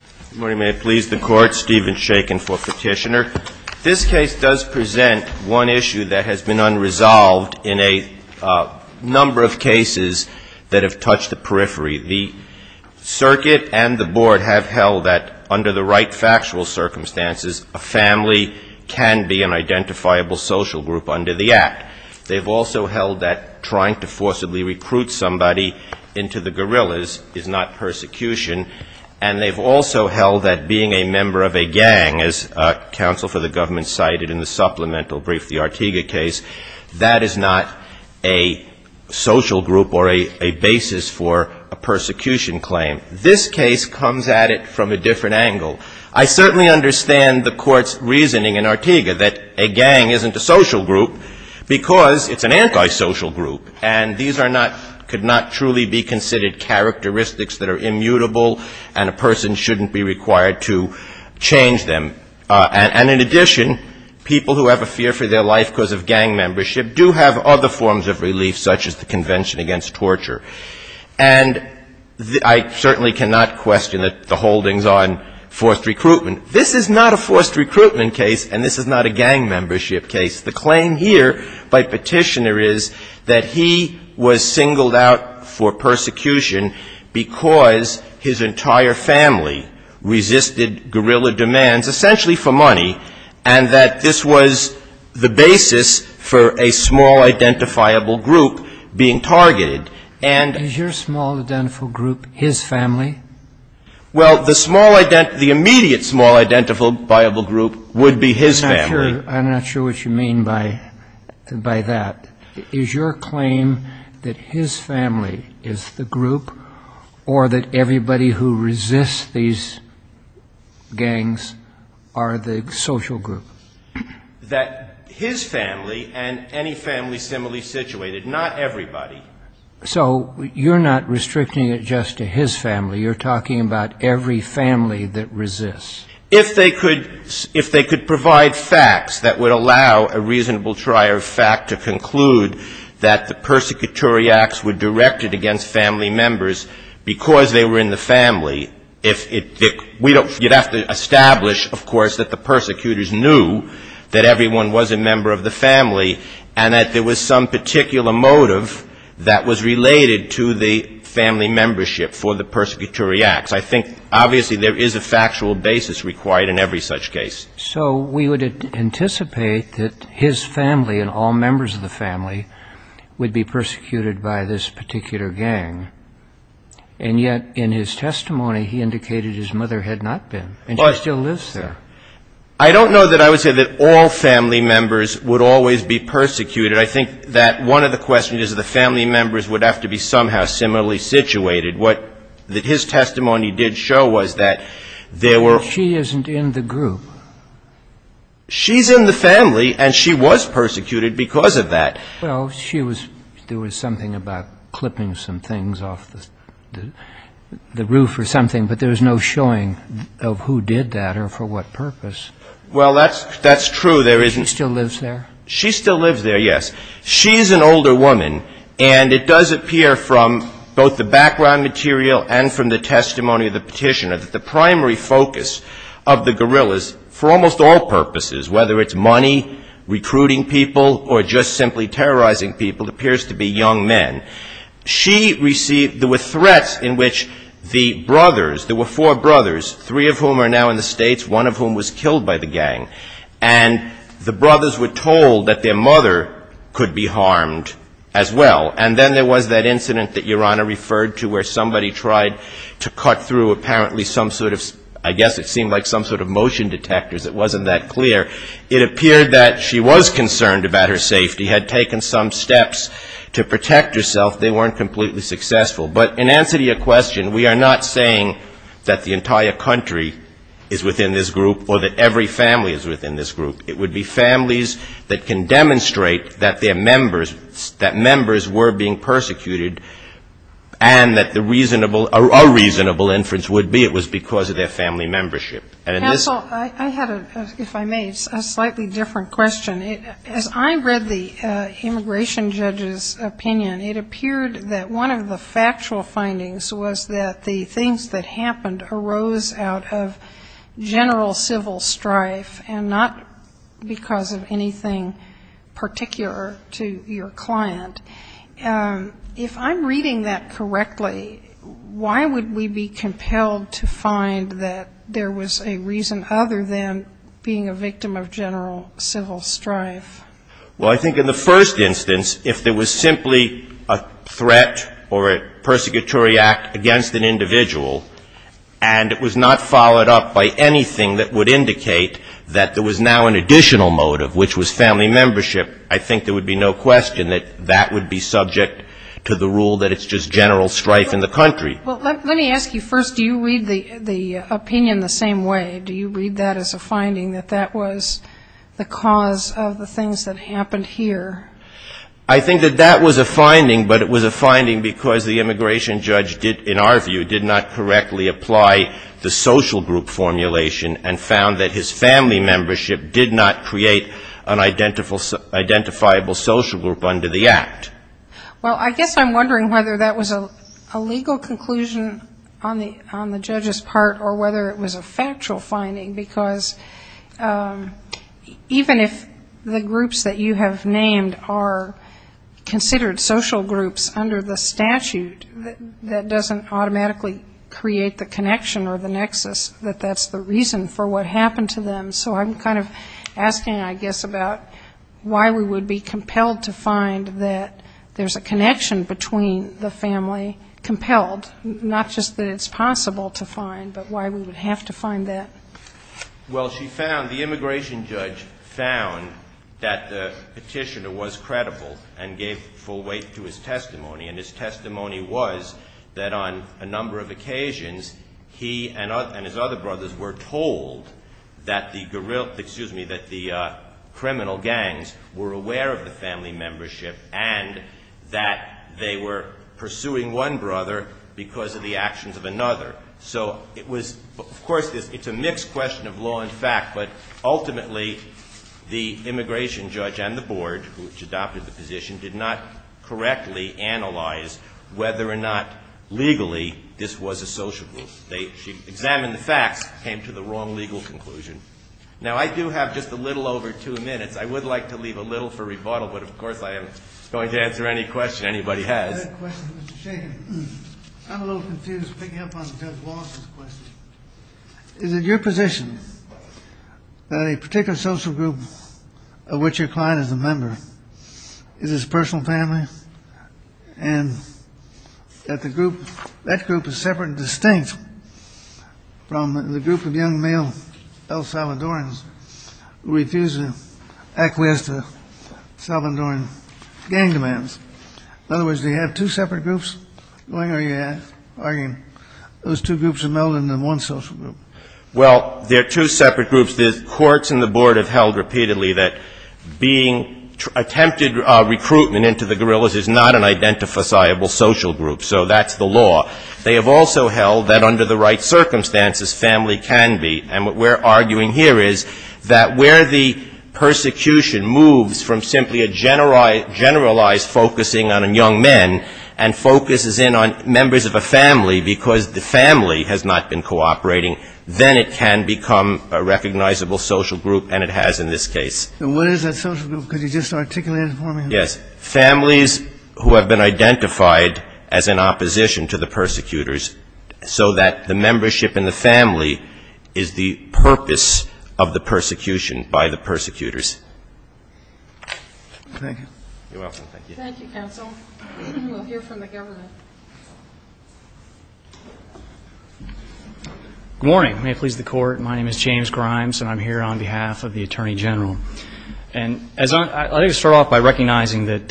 This case does present one issue that has been unresolved in a number of cases that have touched the periphery. The circuit and the board have held that under the right factual circumstances, a family can be an identifiable social group under the Act. They've also held that trying to forcibly recruit somebody into the guerrillas is not persecution. And they've also held that being a member of a gang, as counsel for the government cited in the supplemental brief, the Artiga case, that is not a social group or a basis for a persecution claim. This case comes at it from a different angle. I certainly understand the Court's reasoning in Artiga that a gang isn't a social group because it's an antisocial group. And these are not, could not truly be considered characteristics that are immutable, and a person shouldn't be required to change them. And in addition, people who have a fear for their life because of gang membership do have other forms of relief, such as the Convention Against Torture. And I certainly cannot question the holdings on forced recruitment. This is not a forced recruitment case, and this is not a gang membership case. The claim here by Petitioner is that he was singled out for persecution because his entire family resisted guerrilla demands, essentially for money, and that this was the basis for a small identifiable group being targeted. And — Is your small identifiable group his family? Well, the small — the immediate small identifiable group would be his family. I'm not sure what you mean by that. Is your claim that his family is the group or that everybody who resists these gangs are the social group? That his family and any family similarly situated. Not everybody. So you're not restricting it just to his family. You're talking about every family that resists. If they could — if they could provide facts that would allow a reasonable trier of fact to conclude that the persecutory acts were directed against family members because they were in the family, if it — we don't — you'd have to establish, of course, that the persecutors knew that everyone was a member of the family and that there was some particular motive that was related to the family membership for the persecutory acts. I think, obviously, there is a factual basis required in every such case. So we would anticipate that his family and all members of the family would be persecuted by this particular gang. And yet in his testimony, he indicated his mother had not been, and she still lives there. I don't know that I would say that all family members would always be persecuted. I think that one of the questions is that the family members would have to be somehow similarly situated. What his testimony did show was that there were — But she isn't in the group. She's in the family, and she was persecuted because of that. Well, she was — there was something about clipping some things off the roof or something, but there was no showing of who did that or for what purpose. Well, that's true. She still lives there? She still lives there, yes. She's an older woman, and it does appear from both the background material and from the testimony of the petitioner that the primary focus of the guerrillas, for almost all purposes, whether it's money, recruiting people, or just simply terrorizing people, appears to be young men. She received — there were threats in which the brothers — there were four brothers, three of whom are now in the States, one of whom was killed by the gang. And the brothers were told that their mother could be harmed as well. And then there was that incident that Your Honor referred to where somebody tried to cut through apparently some sort of — I guess it seemed like some sort of motion detectors. It wasn't that clear. It appeared that she was concerned about her safety, had taken some steps to protect herself. They weren't completely successful. But in answer to your question, we are not saying that the entire country is within this group or that every family is within this group. It would be families that can demonstrate that their members — that members were being persecuted, and that the reasonable — a reasonable inference would be it was because of their family membership. Counsel, I had, if I may, a slightly different question. As I read the immigration judge's opinion, it appeared that one of the factual findings was that the things that happened arose out of general civil strife and not because of anything particular to your client. If I'm reading that correctly, why would we be compelled to find that there was a reason other than being a victim of general civil strife? Well, I think in the first instance, if there was simply a threat or a persecutory act against an individual and it was not followed up by anything that would indicate that there was now an additional motive, which was family membership, I think there would be no question that that would be subject to the rule that it's just general strife in the country. Well, let me ask you first, do you read the opinion the same way? Do you read that as a finding that that was the cause of the things that happened here? I think that that was a finding, but it was a finding because the immigration judge did, in our view, did not correctly apply the social group formulation and found that his family membership did not create an identifiable social group under the act. Well, I guess I'm wondering whether that was a legal conclusion on the judge's part or whether it was a factual finding, because even if the groups that you have named are considered social groups under the statute, that doesn't automatically create the connection or the nexus that that's the reason for what happened to them. So I'm kind of asking, I guess, about why we would be compelled to find that there's a connection between the family, compelled, not just that it's possible to find, but why we would have to find that. Well, she found, the immigration judge found that the petitioner was credible and gave full weight to his testimony, and his testimony was that on a number of occasions, he and his other brothers were told that the criminal gangs were aware of the family membership and that they were pursuing one brother because of the actions of another. So it was, of course, it's a mixed question of law and fact, but ultimately the immigration judge and the board, which adopted the position, did not correctly analyze whether or not legally this was a social group. They examined the facts, came to the wrong legal conclusion. Now, I do have just a little over two minutes. I would like to leave a little for rebuttal, but, of course, I am going to answer any question anybody has. I have a question for Mr. Shanahan. I'm a little confused picking up on Judge Lawson's question. Is it your position that a particular social group of which your client is a member is his personal family and that the group, that group is separate and distinct from the group of young male El Salvadorans who refuse to acquiesce to Salvadoran gang demands? In other words, do you have two separate groups going, or are you arguing those two groups are melded into one social group? Well, they're two separate groups. The courts and the board have held repeatedly that being attempted recruitment into the guerrillas is not an identifiable social group, so that's the law. They have also held that under the right circumstances, family can be. And what we're arguing here is that where the persecution moves from simply a generalized focusing on young men and focuses in on members of a family because the family has not been cooperating, then it can become a recognizable social group, and it has in this case. And what is that social group? Could you just articulate it for me? Yes. Families who have been identified as in opposition to the persecutors, so that the membership in the family is the purpose of the persecution by the persecutors. Thank you. You're welcome. Thank you. Thank you, Counsel. We'll hear from the government. Good morning. May it please the Court. My name is James Grimes, and I'm here on behalf of the Attorney General. And I'd like to start off by recognizing that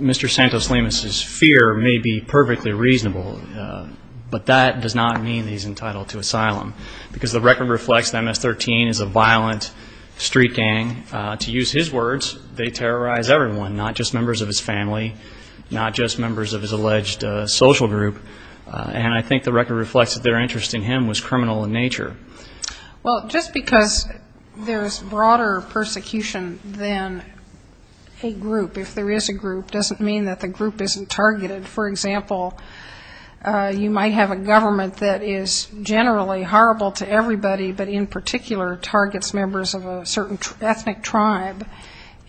Mr. Santos-Lemus's fear may be perfectly reasonable, but that does not mean that he's entitled to asylum because the record reflects that MS-13 is a violent street gang. To use his words, they terrorize everyone, not just members of his family, not just members of his alleged social group. And I think the record reflects that their interest in him was criminal in nature. Well, just because there's broader persecution than a group, if there is a group, doesn't mean that the group isn't targeted. For example, you might have a government that is generally horrible to everybody, but in particular targets members of a certain ethnic tribe.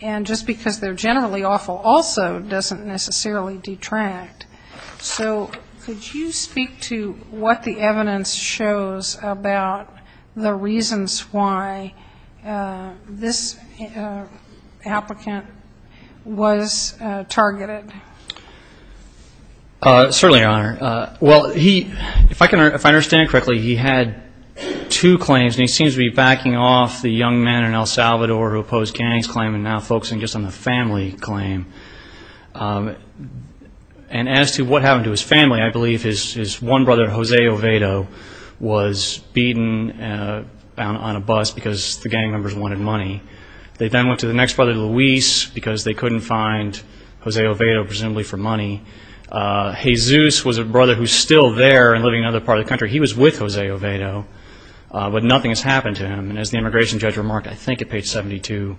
And just because they're generally awful also doesn't necessarily detract. So could you speak to what the evidence shows about the reasons why this applicant was targeted? Certainly, Your Honor. Well, if I understand correctly, he had two claims, and he seems to be backing off the young men in El Salvador who opposed Ganny's claim and now focusing just on the family claim. And as to what happened to his family, I believe his one brother, Jose Ovedo, was beaten on a bus because the gang members wanted money. They then went to the next brother, Luis, because they couldn't find Jose Ovedo, presumably for money. Jesus was a brother who's still there and living in another part of the country. He was with Jose Ovedo, but nothing has happened to him. And as the immigration judge remarked, I think at page 72,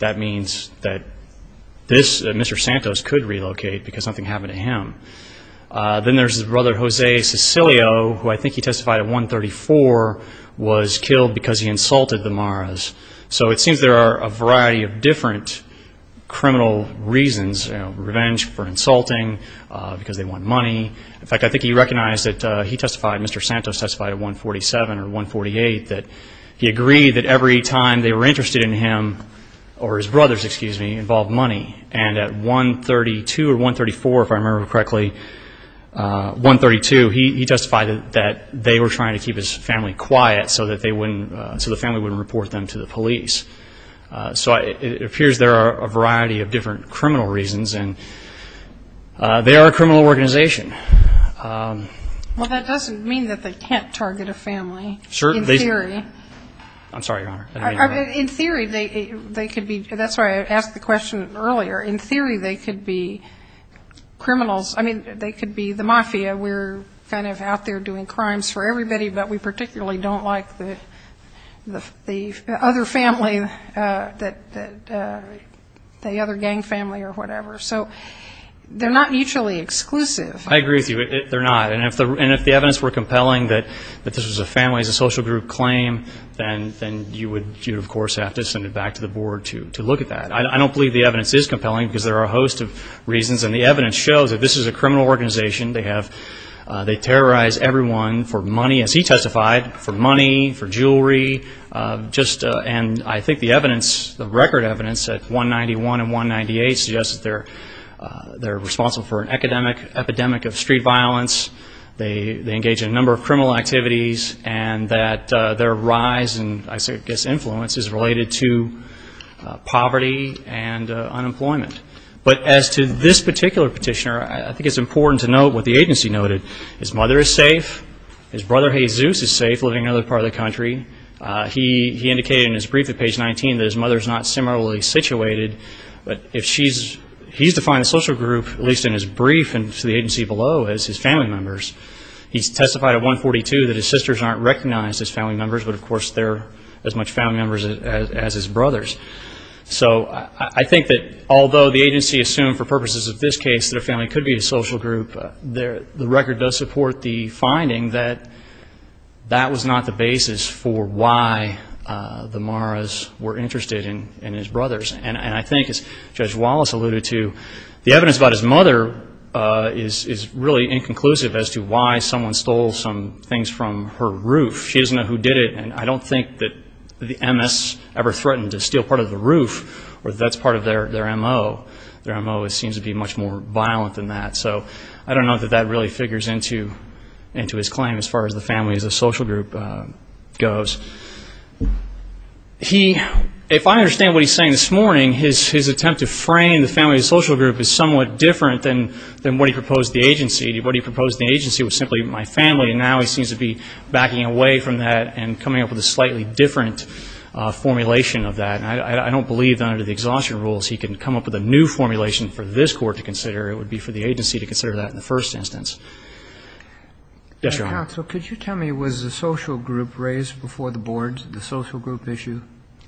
that means that Mr. Santos could relocate because nothing happened to him. Then there's his brother, Jose Sicilio, who I think he testified at 134, was killed because he insulted the Maras. So it seems there are a variety of different criminal reasons, you know, revenge for insulting because they want money. In fact, I think he recognized that he testified, Mr. Santos testified at 147 or 148, that he agreed that every time they were interested in him or his brothers, excuse me, involved money. And at 132 or 134, if I remember correctly, 132, he testified that they were trying to keep his family quiet so that they wouldn't, so the family wouldn't report them to the police. So it appears there are a variety of different criminal reasons, and they are a criminal organization. Well, that doesn't mean that they can't target a family. In theory. I'm sorry, Your Honor. In theory, they could be, that's why I asked the question earlier. In theory, they could be criminals. I mean, they could be the mafia. We're kind of out there doing crimes for everybody, but we particularly don't like the other family, the other gang family or whatever. So they're not mutually exclusive. I agree with you. They're not. And if the evidence were compelling that this was a family as a social group claim, then you would, of course, have to send it back to the board to look at that. And the evidence shows that this is a criminal organization. They terrorize everyone for money, as he testified, for money, for jewelry. And I think the evidence, the record evidence at 191 and 198, suggests that they're responsible for an epidemic of street violence. They engage in a number of criminal activities, and that their rise and, I guess, influence is related to poverty and unemployment. But as to this particular petitioner, I think it's important to note what the agency noted. His mother is safe. His brother, Jesus, is safe, living in another part of the country. He indicated in his brief at page 19 that his mother is not similarly situated. But he's defined a social group, at least in his brief and to the agency below, as his family members. He's testified at 142 that his sisters aren't recognized as family members, but, of course, they're as much family members as his brothers. So I think that although the agency assumed for purposes of this case that a family could be a social group, the record does support the finding that that was not the basis for why the Maras were interested in his brothers. And I think, as Judge Wallace alluded to, the evidence about his mother is really inconclusive as to why someone stole some things from her roof. She doesn't know who did it. And I don't think that the MS ever threatened to steal part of the roof or that that's part of their MO. Their MO seems to be much more violent than that. So I don't know that that really figures into his claim as far as the family as a social group goes. If I understand what he's saying this morning, his attempt to frame the family as a social group is somewhat different than what he proposed to the agency. What he proposed to the agency was simply my family. And now he seems to be backing away from that and coming up with a slightly different formulation of that. And I don't believe, under the exhaustion rules, he can come up with a new formulation for this Court to consider. It would be for the agency to consider that in the first instance. Yes, Your Honor. So could you tell me, was the social group raised before the boards, the social group issue?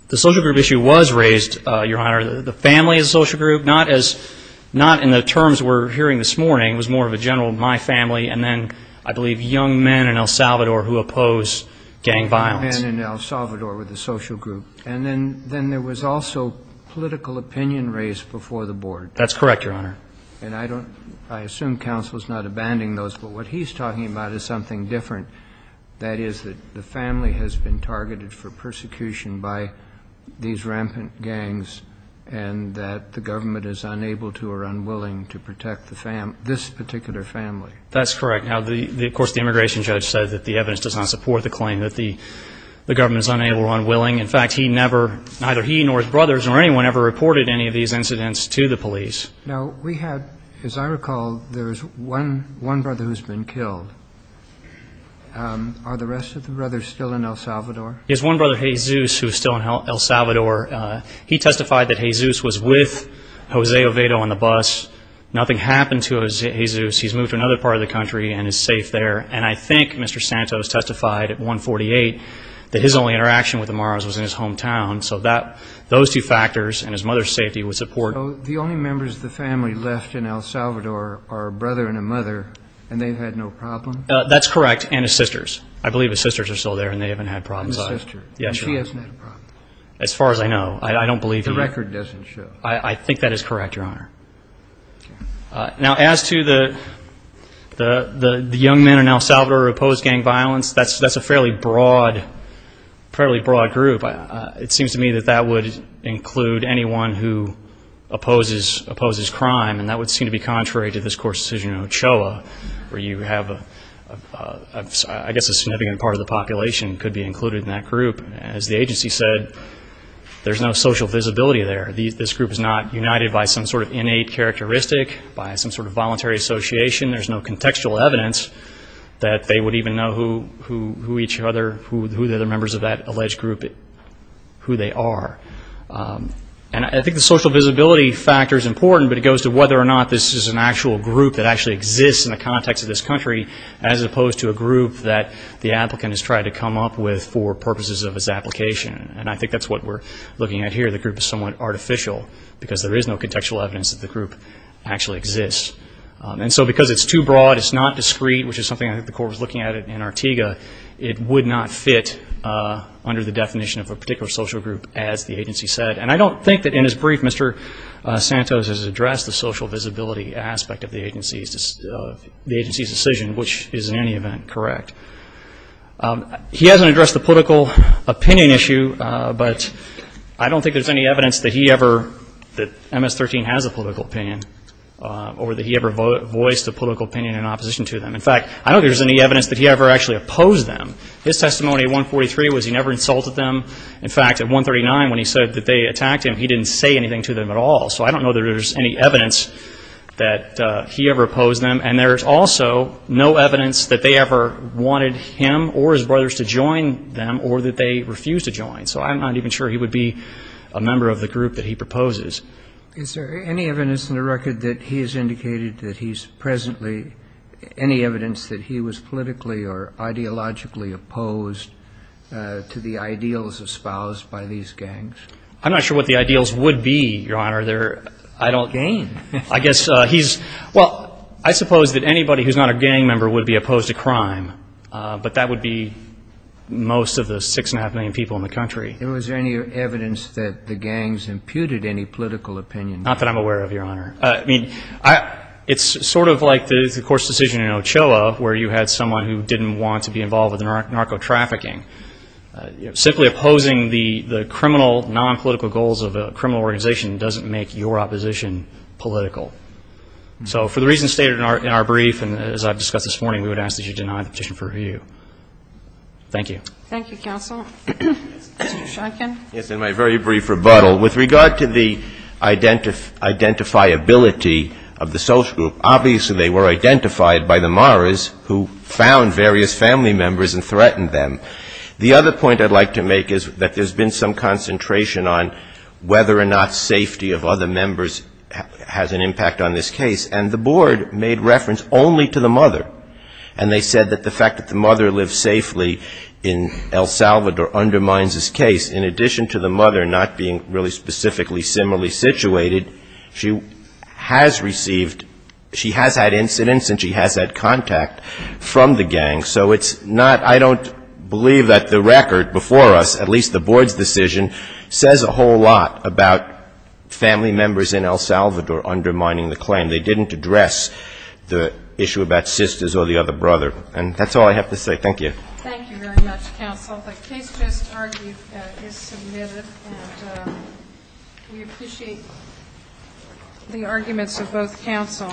The social group issue was raised, Your Honor. The family as a social group, not in the terms we're hearing this morning, was more of a general my family. And then, I believe, young men in El Salvador who oppose gang violence. Young men in El Salvador with a social group. And then there was also political opinion raised before the board. That's correct, Your Honor. And I assume counsel is not abandoning those. But what he's talking about is something different, that is that the family has been targeted for persecution by these rampant gangs and that the government is unable to or unwilling to protect this particular family. That's correct. Now, of course, the immigration judge said that the evidence does not support the claim that the government is unable or unwilling. In fact, he never, neither he nor his brothers or anyone, ever reported any of these incidents to the police. Now, we had, as I recall, there's one brother who's been killed. Are the rest of the brothers still in El Salvador? There's one brother, Jesus, who's still in El Salvador. He testified that Jesus was with Jose Ovedo on the bus. Nothing happened to Jesus. He's moved to another part of the country and is safe there. And I think Mr. Santos testified at 148 that his only interaction with the Maras was in his hometown. So those two factors and his mother's safety would support. So the only members of the family left in El Salvador are a brother and a mother, and they've had no problem? That's correct, and his sisters. I believe his sisters are still there and they haven't had problems. And his sister. And she hasn't had a problem. As far as I know. I don't believe he has. The record doesn't show. I think that is correct, Your Honor. Now, as to the young men in El Salvador who oppose gang violence, that's a fairly broad group. It seems to me that that would include anyone who opposes crime, and that would seem to be contrary to this court's decision in Ochoa, where you have, I guess, a significant part of the population could be included in that group. As the agency said, there's no social visibility there. This group is not united by some sort of innate characteristic, by some sort of voluntary association. There's no contextual evidence that they would even know who each other, who the other members of that alleged group, who they are. And I think the social visibility factor is important, but it goes to whether or not this is an actual group that actually exists in the context of this country, as opposed to a group that the applicant has tried to come up with for purposes of his application. And I think that's what we're looking at here. The group is somewhat artificial because there is no contextual evidence that the group actually exists. And so because it's too broad, it's not discrete, which is something I think the court was looking at in Artiga, it would not fit under the definition of a particular social group, as the agency said. And I don't think that in his brief, Mr. Santos has addressed the social visibility aspect of the agency's decision, which is in any event correct. He hasn't addressed the political opinion issue, but I don't think there's any evidence that he ever, that MS-13 has a political opinion, or that he ever voiced a political opinion in opposition to them. In fact, I don't think there's any evidence that he ever actually opposed them. His testimony at 143 was he never insulted them. In fact, at 139, when he said that they attacked him, he didn't say anything to them at all. So I don't know that there's any evidence that he ever opposed them. And there's also no evidence that they ever wanted him or his brothers to join them or that they refused to join. So I'm not even sure he would be a member of the group that he proposes. Is there any evidence in the record that he has indicated that he's presently, any evidence that he was politically or ideologically opposed to the ideals espoused by these gangs? I'm not sure what the ideals would be, Your Honor. They're, I don't. Gain. I guess he's, well, I suppose that anybody who's not a gang member would be opposed to crime, but that would be most of the 6.5 million people in the country. Is there any evidence that the gangs imputed any political opinion? Not that I'm aware of, Your Honor. I mean, it's sort of like the Coors decision in Ochoa, where you had someone who didn't want to be involved with narco-trafficking. Simply opposing the criminal, non-political goals of a criminal organization doesn't make your opposition political. So for the reasons stated in our brief and as I've discussed this morning, we would ask that you deny the petition for review. Thank you. Thank you, counsel. Mr. Shonkin. Yes, in my very brief rebuttal, with regard to the identifiability of the social group, obviously they were identified by the Maras who found various family members and threatened them. The other point I'd like to make is that there's been some concentration on whether or not safety of other members has an impact on this case, and the board made reference only to the mother. And they said that the fact that the mother lives safely in El Salvador undermines this case. In addition to the mother not being really specifically similarly situated, she has received, she has had incidents and she has had contact from the gang. So it's not, I don't believe that the record before us, at least the board's decision, says a whole lot about family members in El Salvador undermining the claim. They didn't address the issue about sisters or the other brother. And that's all I have to say. Thank you. Thank you very much, counsel. The case just is submitted. And we appreciate the arguments of both counsel.